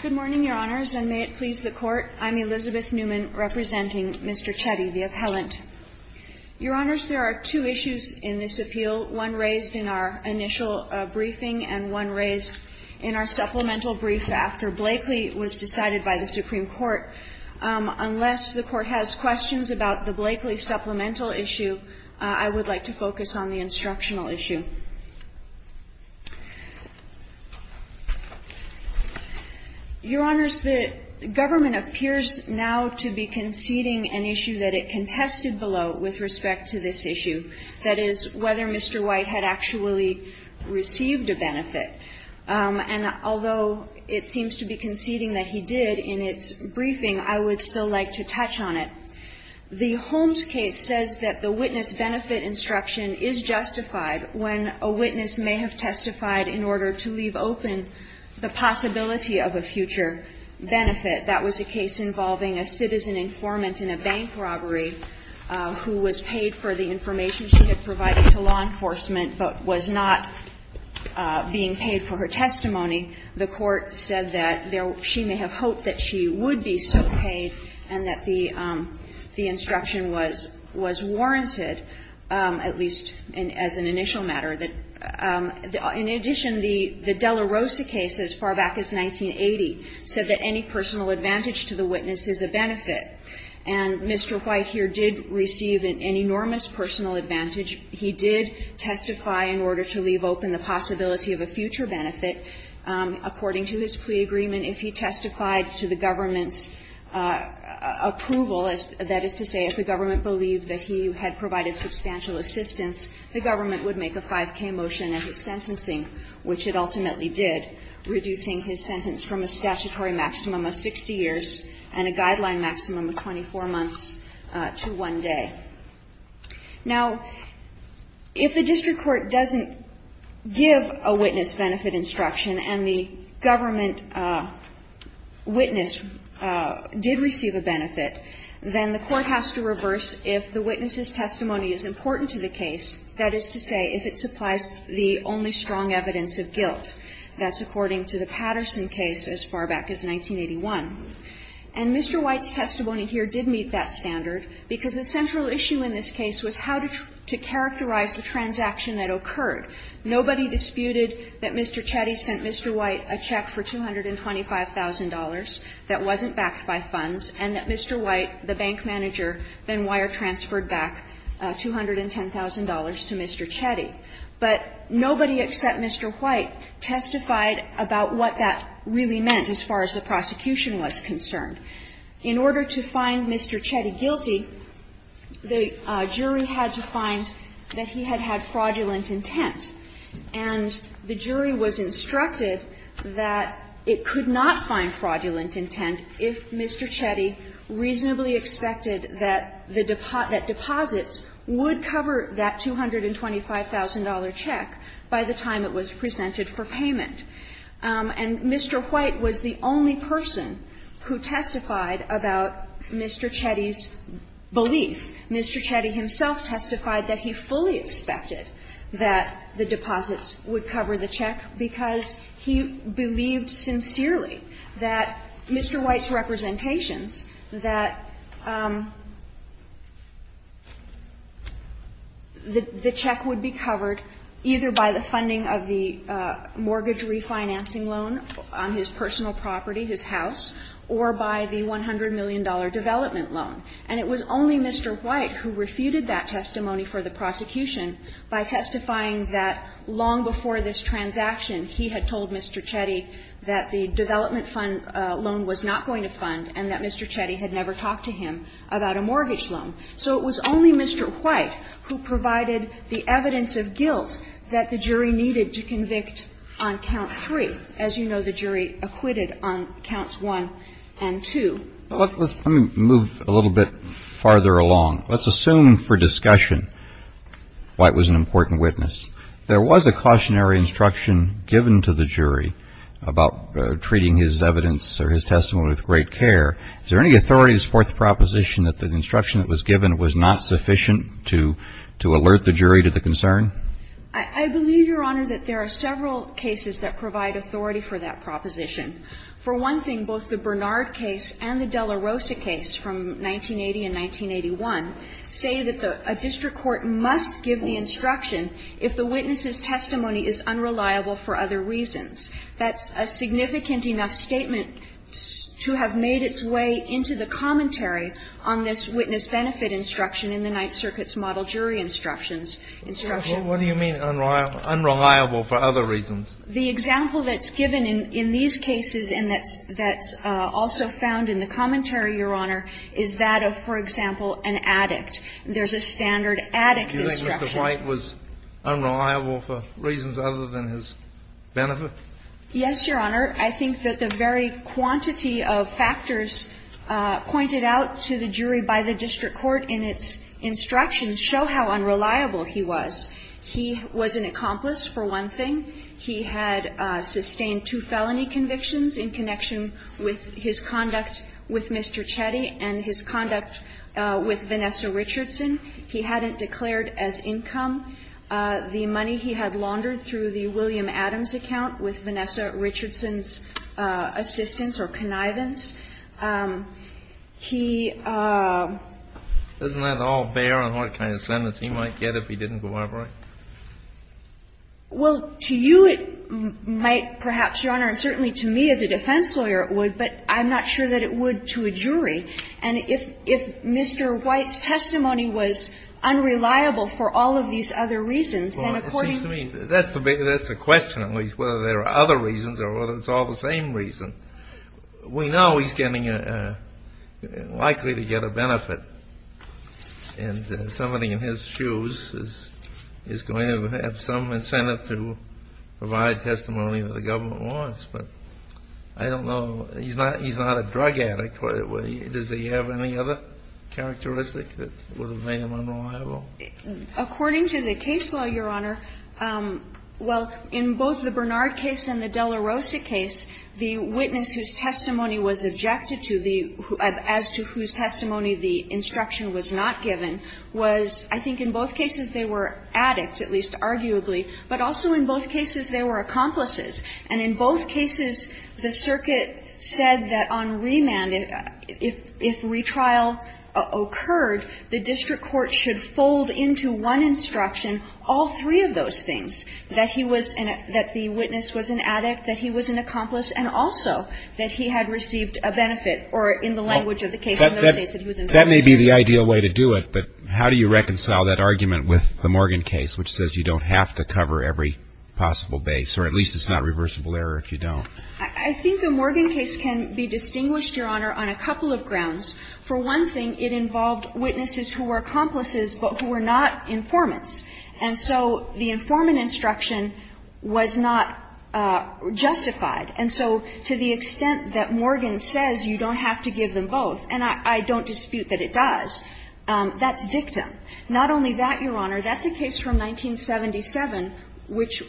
Good morning, Your Honors, and may it please the Court. I'm Elizabeth Newman, representing Mr. Chetty, the appellant. Your Honors, there are two issues in this appeal, one raised in our initial briefing and one raised in our supplemental brief after Blakely was decided by the Supreme Court. Unless the Court has questions about the Blakely supplemental issue, I would like to focus on the instructional issue. Your Honors, the government appears now to be conceding an issue that it contested below with respect to this issue, that is, whether Mr. White had actually received a benefit. And although it seems to be conceding that he did in its briefing, I would still like to touch on it. The Holmes case says that the witness benefit instruction is justified when a witness may have testified in order to leave open the possibility of a future benefit. That was a case involving a citizen informant in a bank robbery who was paid for the information she had provided to law enforcement but was not being paid for her testimony. The Court said that she may have hoped that she would be still paid and that the instruction was warranted, at least as an initial matter. In addition, the Della Rosa case, as far back as 1980, said that any personal advantage to the witness is a benefit. And Mr. White here did receive an enormous personal advantage. He did testify in order to leave open the possibility of a future benefit. According to his plea agreement, if he testified to the government's approval, that is to say, if the government believed that he had provided substantial assistance, the government would make a 5k motion in his sentencing, which it ultimately did, reducing his sentence from a statutory maximum of 60 years and a guideline maximum of 24 months to one day. Now, if the district court doesn't give a witness benefit instruction and the government witness did receive a benefit, then the Court has to reverse if the witness's testimony is important to the case, that is to say, if it supplies the only strong evidence of guilt. That's according to the Patterson case as far back as 1981. And Mr. White's testimony here did meet that standard, because the central issue in this case was how to characterize the transaction that occurred. Nobody disputed that Mr. Chetty sent Mr. White a check for $225,000 that wasn't backed by funds, and that Mr. White, the bank manager, then wire-transferred back $210,000 to Mr. Chetty. But nobody except Mr. White testified about what that really meant as far as the prosecution was concerned. In order to find Mr. Chetty guilty, the jury had to find that he had had fraudulent intent, and the jury was instructed that it could not find fraudulent intent if Mr. Chetty reasonably expected that the deposits would cover that $225,000 check by the time it was presented for payment. And Mr. White was the only person who testified about Mr. Chetty's belief. Mr. Chetty himself testified that he fully expected that the deposits would cover the check because he believed sincerely that Mr. White's representations that the check would be covered either by the funding of the mortgage repayment refinancing loan on his personal property, his house, or by the $100 million development loan. And it was only Mr. White who refuted that testimony for the prosecution by testifying that long before this transaction he had told Mr. Chetty that the development fund loan was not going to fund and that Mr. Chetty had never talked to him about a mortgage loan. So it was only Mr. White who provided the evidence of guilt that the jury needed to convict on count three. As you know, the jury acquitted on counts one and two. Well, let's move a little bit farther along. Let's assume for discussion White was an important witness. There was a cautionary instruction given to the jury about treating his evidence or his testimony with great care. Is there any authority to support the proposition that the instruction that was given was not sufficient to alert the jury to the concern? I believe, Your Honor, that there are several cases that provide authority for that proposition. For one thing, both the Bernard case and the Della Rosa case from 1980 and 1981 say that a district court must give the instruction if the witness's testimony is unreliable for other reasons. That's a significant enough statement to have made its way into the commentary on this witness benefit instruction in the Ninth Circuit's model jury instructions. What do you mean unreliable for other reasons? The example that's given in these cases and that's also found in the commentary, Your Honor, is that of, for example, an addict. There's a standard addict instruction. Do you think Mr. White was unreliable for reasons other than his benefit? Yes, Your Honor. I think that the very quantity of factors pointed out to the jury by the district court in its instructions show how unreliable he was. He was an accomplice, for one thing. He had sustained two felony convictions in connection with his conduct with Mr. Chetty and his conduct with Vanessa Richardson. He hadn't declared as income the money he had laundered through the William Adams account with Vanessa Richardson's assistance or connivance. He ---- Isn't that all bare in what kind of sentence he might get if he didn't go over it? Well, to you it might, perhaps, Your Honor, and certainly to me as a defense lawyer it would, but I'm not sure that it would to a jury. And if Mr. White's testimony was unreliable for all of these other reasons, then according to me ---- Well, it seems to me that's the question, at least, whether there are other reasons or whether it's all the same reason. We know he's getting a ---- likely to get a benefit, and somebody in his shoes is going to have some incentive to provide testimony that the government wants. But I don't know. He's not a drug addict. Does he have any other characteristic that would have made him unreliable? According to the case law, Your Honor, well, in both the Bernard case and the Della case, the witness whose testimony was objected to the ---- as to whose testimony the instruction was not given was, I think, in both cases they were addicts, at least arguably, but also in both cases they were accomplices. And in both cases, the circuit said that on remand, if retrial occurred, the district court should fold into one instruction all three of those things, that he was an ---- that he had received a benefit, or in the language of the case in both cases he was an addict. But that may be the ideal way to do it, but how do you reconcile that argument with the Morgan case, which says you don't have to cover every possible base, or at least it's not reversible error if you don't? I think the Morgan case can be distinguished, Your Honor, on a couple of grounds. For one thing, it involved witnesses who were accomplices but who were not informants. And so the informant instruction was not justified. And so to the extent that Morgan says you don't have to give them both, and I don't dispute that it does, that's dictum. Not only that, Your Honor, that's a case from 1977 which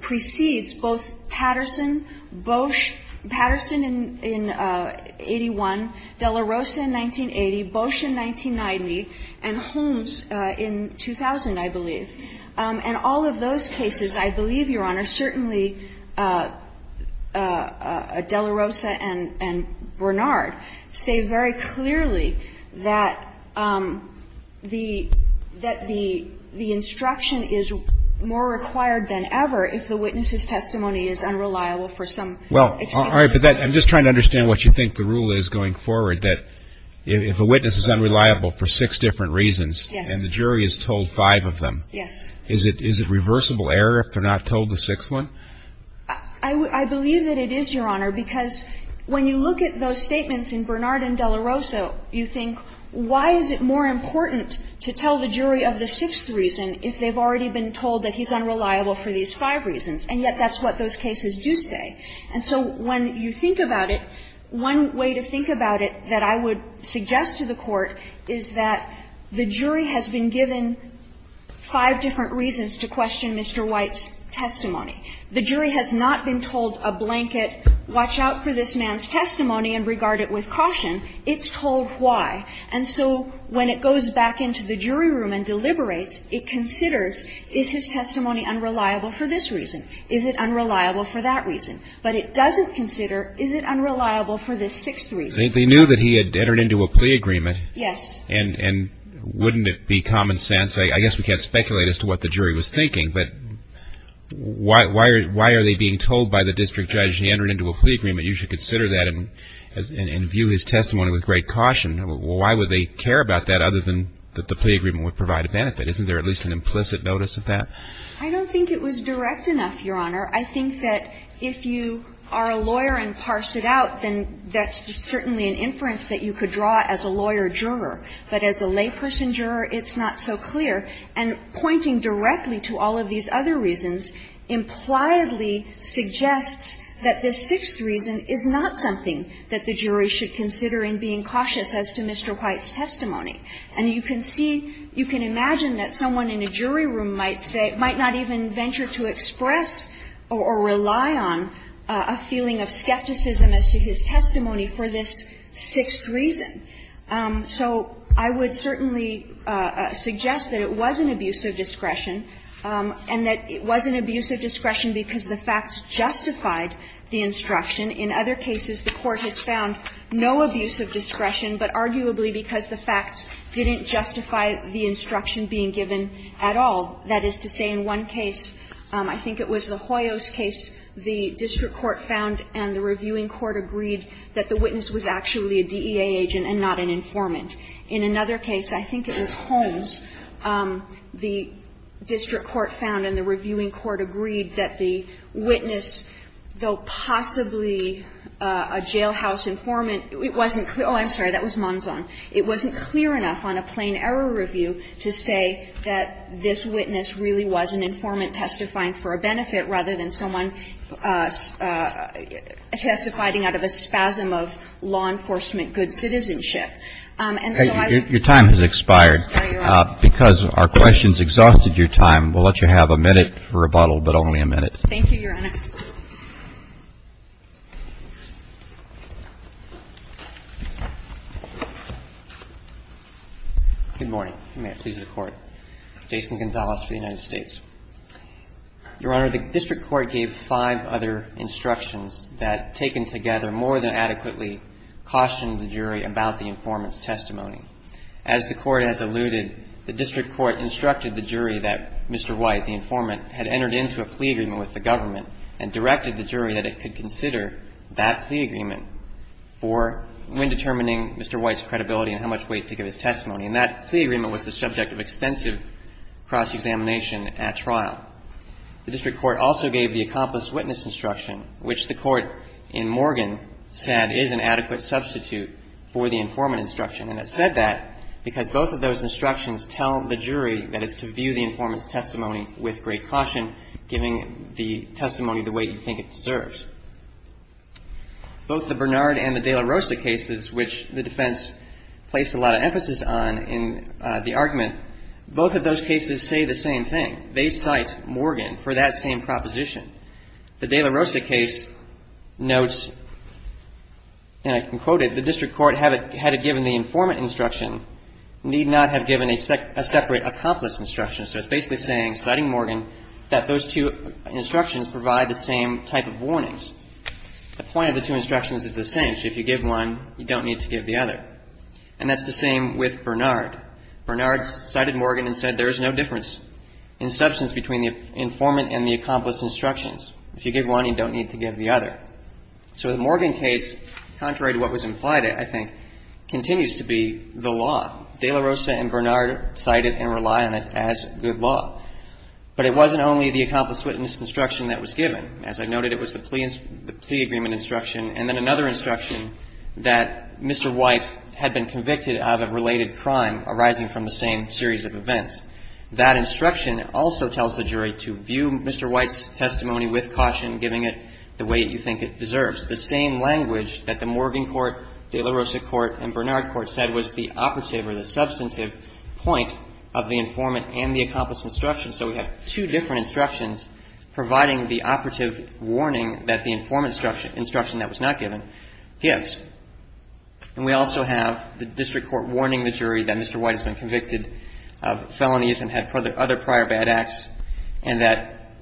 precedes both Patterson, Bosch, Patterson in 81, De La Rosa in 1980, Bosch in 1990, and Holmes in 2000, I believe. And all of those cases, I believe, Your Honor, certainly De La Rosa and Bernard say very clearly that the instruction is more required than ever if the witness's testimony is unreliable for some extent. Well, all right, but I'm just trying to understand what you think the rule is going forward, that if a witness is unreliable for six different reasons and the jury is told five of them. Yes. Is it reversible error if they're not told the sixth one? I believe that it is, Your Honor, because when you look at those statements in Bernard and De La Rosa, you think, why is it more important to tell the jury of the sixth reason if they've already been told that he's unreliable for these five reasons, and yet that's what those cases do say. And so when you think about it, one way to think about it that I would suggest to the Court is that the jury has been given five different reasons to question Mr. White's testimony. The jury has not been told a blanket, watch out for this man's testimony and regard it with caution. It's told why. And so when it goes back into the jury room and deliberates, it considers, is his testimony unreliable for this reason? Is it unreliable for that reason? But it doesn't consider, is it unreliable for this sixth reason? They knew that he had entered into a plea agreement. Yes. And wouldn't it be common sense, I guess we can't speculate as to what the jury was thinking, but why are they being told by the district judge he entered into a plea agreement, you should consider that and view his testimony with great caution. Why would they care about that other than that the plea agreement would provide a benefit? Isn't there at least an implicit notice of that? I don't think it was direct enough, Your Honor. I think that if you are a lawyer and parse it out, then that's certainly an inference that you could draw as a lawyer-juror. But as a layperson-juror, it's not so clear. And pointing directly to all of these other reasons impliedly suggests that this sixth reason is not something that the jury should consider in being cautious as to Mr. White's testimony. And you can see, you can imagine that someone in a jury room might say, might not even express or rely on a feeling of skepticism as to his testimony for this sixth reason. So I would certainly suggest that it was an abuse of discretion and that it was an abuse of discretion because the facts justified the instruction. In other cases, the Court has found no abuse of discretion, but arguably because the facts didn't justify the instruction being given at all. That is to say, in one case, I think it was the Hoyos case, the district court found and the reviewing court agreed that the witness was actually a DEA agent and not an informant. In another case, I think it was Holmes, the district court found and the reviewing court agreed that the witness, though possibly a jailhouse informant, it wasn't clear – oh, I'm sorry, that was Monzon – it wasn't clear enough on a plain-error review to say that this witness really was an informant testifying for a benefit rather than someone testifying out of a spasm of law enforcement good citizenship. And so I would – Your time has expired. Because our questions exhausted your time, we'll let you have a minute for rebuttal, but only a minute. Thank you, Your Honor. Good morning. May it please the Court. Jason Gonzalez for the United States. Your Honor, the district court gave five other instructions that, taken together, more than adequately cautioned the jury about the informant's testimony. As the Court has alluded, the district court instructed the jury that Mr. White, the informant, had entered into a plea agreement with the government and directed the jury that it could consider that plea agreement for when determining Mr. White's credibility and how much weight to give his testimony. And that plea agreement was the subject of extensive cross-examination at trial. The district court also gave the accomplice witness instruction, which the Court in Morgan said is an adequate substitute for the informant instruction. And it said that because both of those instructions tell the jury that it's to view the informant's testimony with great caution, giving the testimony the weight you think it deserves. Both the Bernard and the de la Rosa cases, which the defense placed a lot of emphasis on in the argument, both of those cases say the same thing. They cite Morgan for that same proposition. The district court, had it given the informant instruction, need not have given a separate accomplice instruction. So it's basically saying, citing Morgan, that those two instructions provide the same type of warnings. The point of the two instructions is the same. So if you give one, you don't need to give the other. And that's the same with Bernard. Bernard cited Morgan and said there is no difference in substance between the informant and the accomplice instructions. If you give one, you don't need to give the other. So the Morgan case, contrary to what was implied, I think, continues to be the law. De la Rosa and Bernard cited and rely on it as good law. But it wasn't only the accomplice witness instruction that was given. As I noted, it was the plea agreement instruction. And then another instruction that Mr. White had been convicted of a related crime arising from the same series of events. That instruction also tells the jury to view Mr. White's testimony with caution, giving it the way that you think it deserves. The same language that the Morgan court, de la Rosa court and Bernard court said was the operative or the substantive point of the informant and the accomplice instruction. So we have two different instructions providing the operative warning that the informant instruction that was not given gives. And we also have the district court warning the jury that Mr. White has been convicted of felonies and had other prior bad acts and that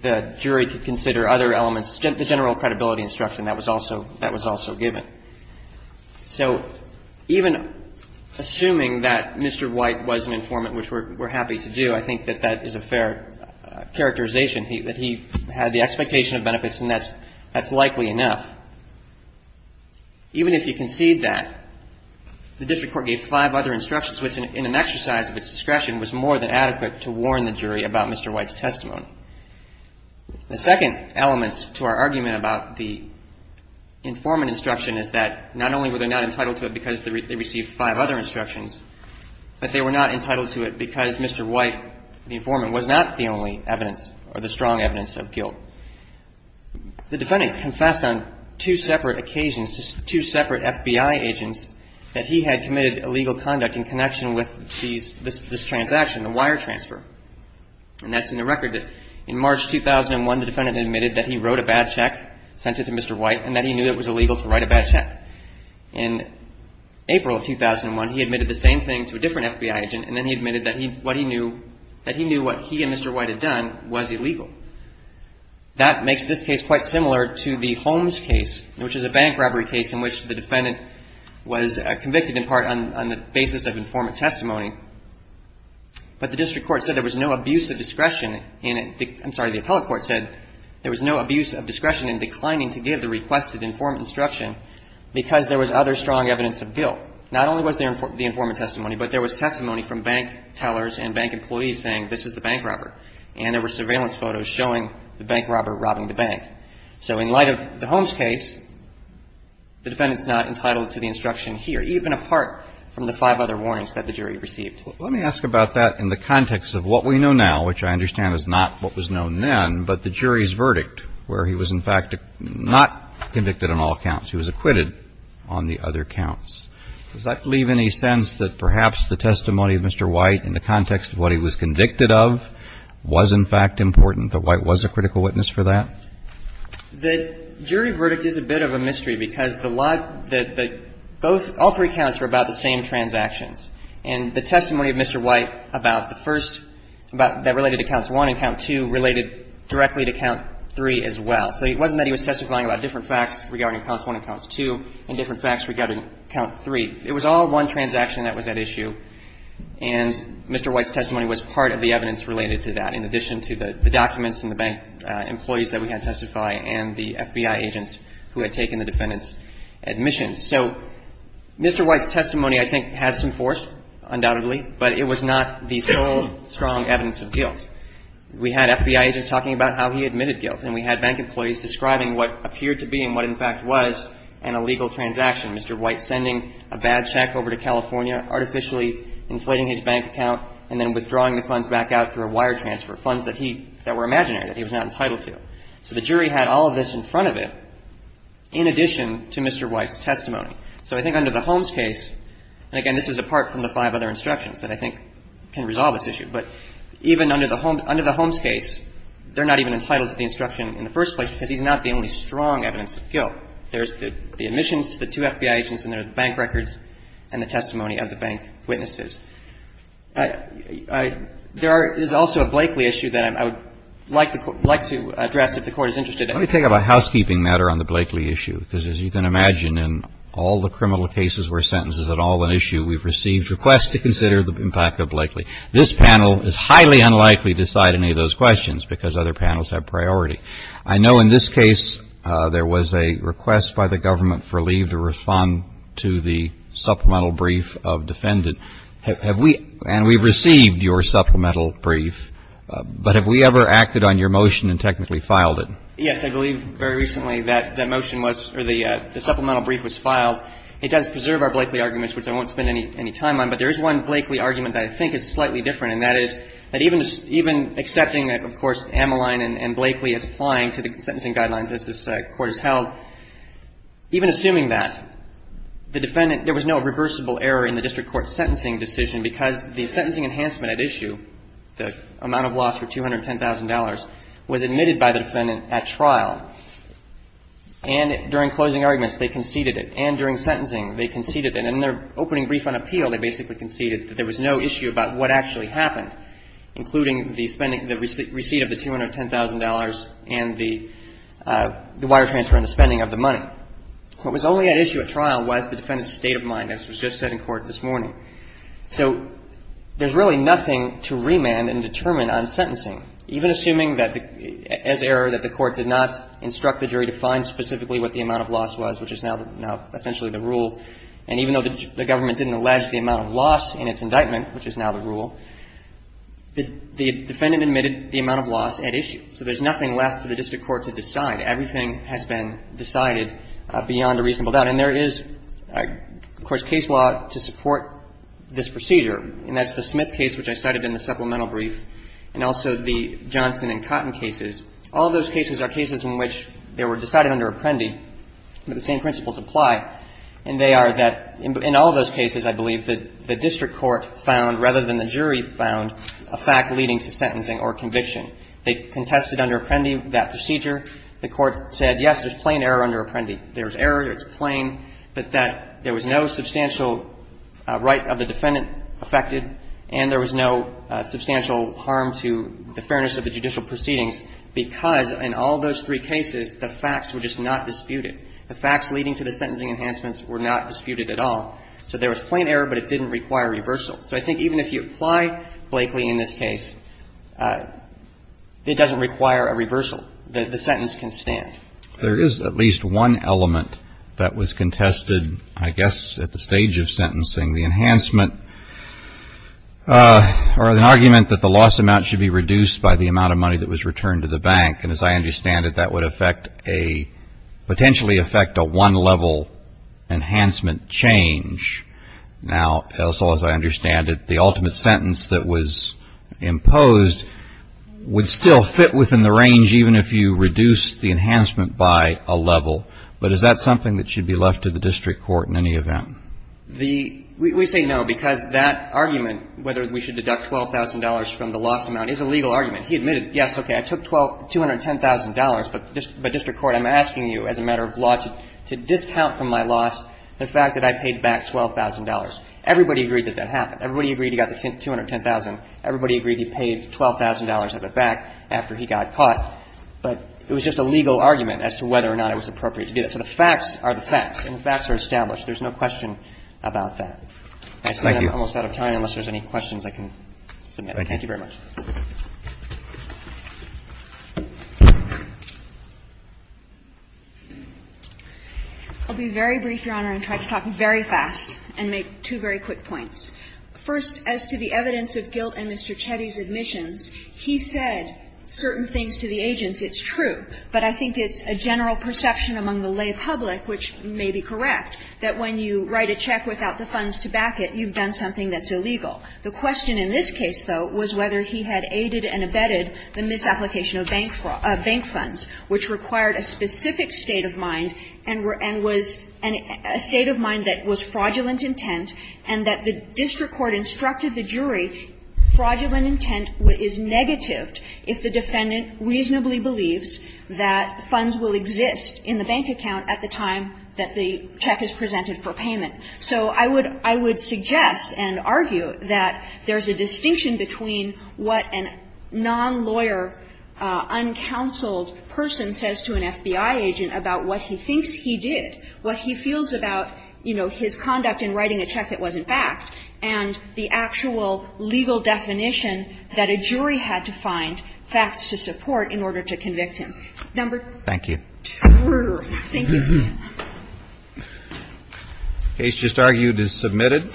the jury could consider other elements. The general credibility instruction, that was also given. So even assuming that Mr. White was an informant, which we're happy to do, I think that that is a fair characterization. He had the expectation of benefits, and that's likely enough. Even if you concede that, the district court gave five other instructions, which, in an exercise of its discretion, was more than adequate to warn the jury about Mr. White's testimony. The second element to our argument about the informant instruction is that not only were they not entitled to it because they received five other instructions, but they were not entitled to it because Mr. White, the informant, was not the only evidence or the strong evidence of guilt. The defendant confessed on two separate occasions to two separate FBI agents that he had committed illegal conduct in connection with this transaction, the wire transfer. And that's in the record. In March 2001, the defendant admitted that he wrote a bad check, sent it to Mr. White, and that he knew it was illegal to write a bad check. In April of 2001, he admitted the same thing to a different FBI agent, and then he admitted that he knew what he and Mr. White had done was illegal. That makes this case quite similar to the Holmes case, which is a bank robbery case in which the defendant was convicted in part on the basis of informant testimony. But the district court said there was no abuse of discretion in it. I'm sorry. The appellate court said there was no abuse of discretion in declining to give the requested informant instruction because there was other strong evidence of guilt. Not only was there the informant testimony, but there was testimony from bank tellers and bank employees saying this is the bank robber. And there were surveillance photos showing the bank robber robbing the bank. So in light of the Holmes case, the defendant's not entitled to the instruction here, even apart from the five other warrants that the jury received. Let me ask about that in the context of what we know now, which I understand is not what was known then, but the jury's verdict, where he was in fact not convicted on all counts. He was acquitted on the other counts. Does that leave any sense that perhaps the testimony of Mr. White in the context of what he was convicted of was in fact important, that White was a critical witness for that? The jury verdict is a bit of a mystery because the lot that the both all three counts were about the same transactions. And the testimony of Mr. White about the first, about that related to count one and count two related directly to count three as well. So it wasn't that he was testifying about different facts regarding counts one and counts two and different facts regarding count three. It was all one transaction that was at issue. And Mr. White's testimony was part of the evidence related to that, in addition to the documents and the bank employees that we had testify and the FBI agents who had taken the defendant's admissions. So Mr. White's testimony, I think, has some force, undoubtedly, but it was not the sole strong evidence of guilt. We had FBI agents talking about how he admitted guilt, and we had bank employees describing what appeared to be and what in fact was an illegal transaction, Mr. White sending a bad check over to California, artificially inflating his bank account, and then withdrawing the funds back out through a wire transfer, funds that he, that were imaginary, that he was not entitled to. So the jury had all of this in front of it, in addition to Mr. White's testimony. So I think under the Holmes case, and, again, this is apart from the five other instructions that I think can resolve this issue, but even under the Holmes case, they're not even entitled to the instruction in the first place because he's not the only strong evidence of guilt. There's the admissions to the two FBI agents and there are the bank records and the testimony of the bank witnesses. There is also a Blakeley issue that I would like to address if the Court is interested in it. Let me take up a housekeeping matter on the Blakeley issue, because as you can imagine, in all the criminal cases where sentences are at all an issue, we've received requests to consider the impact of Blakeley. This panel is highly unlikely to decide any of those questions because other panels have priority. I know in this case there was a request by the government for leave to respond to the supplemental brief of defendant. Have we – and we've received your supplemental brief, but have we ever acted on your motion and technically filed it? Yes. I believe very recently that the motion was – or the supplemental brief was filed. It does preserve our Blakeley arguments, which I won't spend any time on, but there is one Blakeley argument that I think is slightly different, and that is that even accepting that, of course, Ameline and Blakeley is applying to the sentencing There was no reversible error in the district court's sentencing decision because the sentencing enhancement at issue, the amount of loss for $210,000, was admitted by the defendant at trial. And during closing arguments, they conceded it. And during sentencing, they conceded it. And in their opening brief on appeal, they basically conceded that there was no issue about what actually happened, including the spending – the receipt of the $210,000 and the wire transfer and the spending of the money. What was only at issue at trial was the defendant's state of mind, as was just said in court this morning. So there's really nothing to remand and determine on sentencing. Even assuming that as error that the court did not instruct the jury to find specifically what the amount of loss was, which is now essentially the rule, and even though the government didn't allege the amount of loss in its indictment, which is now the rule, the defendant admitted the amount of loss at issue. So there's nothing left for the district court to decide. Everything has been decided beyond a reasonable doubt. And there is, of course, case law to support this procedure. And that's the Smith case, which I cited in the supplemental brief, and also the Johnson and Cotton cases. All of those cases are cases in which they were decided under apprendi, but the same principles apply. And they are that in all of those cases, I believe, the district court found rather than the jury found a fact leading to sentencing or conviction. They contested under apprendi that procedure. The court said, yes, there's plain error under apprendi. There's error, it's plain, but that there was no substantial right of the defendant affected and there was no substantial harm to the fairness of the judicial proceedings because in all those three cases, the facts were just not disputed. The facts leading to the sentencing enhancements were not disputed at all. So there was plain error, but it didn't require reversal. So I think even if you apply Blakely in this case, it doesn't require a reversal. The sentence can stand. There is at least one element that was contested, I guess, at the stage of sentencing. The enhancement or the argument that the loss amount should be reduced by the amount of money that was returned to the bank. And as I understand it, that would affect a, potentially affect a one-level enhancement change. Now, as far as I understand it, the ultimate sentence that was imposed would still fit within the range even if you reduce the enhancement by a level. But is that something that should be left to the district court in any event? The – we say no because that argument, whether we should deduct $12,000 from the loss amount, is a legal argument. He admitted, yes, okay, I took $210,000, but district court, I'm asking you as a matter of law to discount from my loss the fact that I paid back $12,000. Everybody agreed that that happened. Everybody agreed he got the $210,000. Everybody agreed he paid $12,000 of it back after he got caught. But it was just a legal argument as to whether or not it was appropriate to do that. So the facts are the facts, and the facts are established. There's no question about that. I see I'm almost out of time unless there's any questions I can submit. Thank you very much. I'll be very brief, Your Honor, and try to talk very fast and make two very quick points. First, as to the evidence of guilt in Mr. Chetty's admissions, he said certain things to the agents, it's true, but I think it's a general perception among the lay public, which may be correct, that when you write a check without the funds to back it, you've done something that's illegal. The question in this case, though, was whether he had aided and abetted the misapplication of bank funds, which required a specific state of mind and was a state of mind that was fraudulent intent, and that the district court instructed the jury fraudulent intent is negative if the defendant reasonably believes that funds will exist in the bank account at the time that the check is presented for payment. So I would suggest and argue that there's a distinction between what a non-lawyer, uncounseled person says to an FBI agent about what he thinks he did, what he feels about, you know, his conduct in writing a check that wasn't backed, and the actual legal definition that a jury had to find facts to support in order to convict him. Number two. Thank you. Thank you. The case just argued is submitted.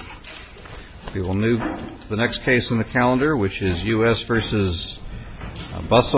We will move to the next case on the calendar, which is U.S. v. Bustle.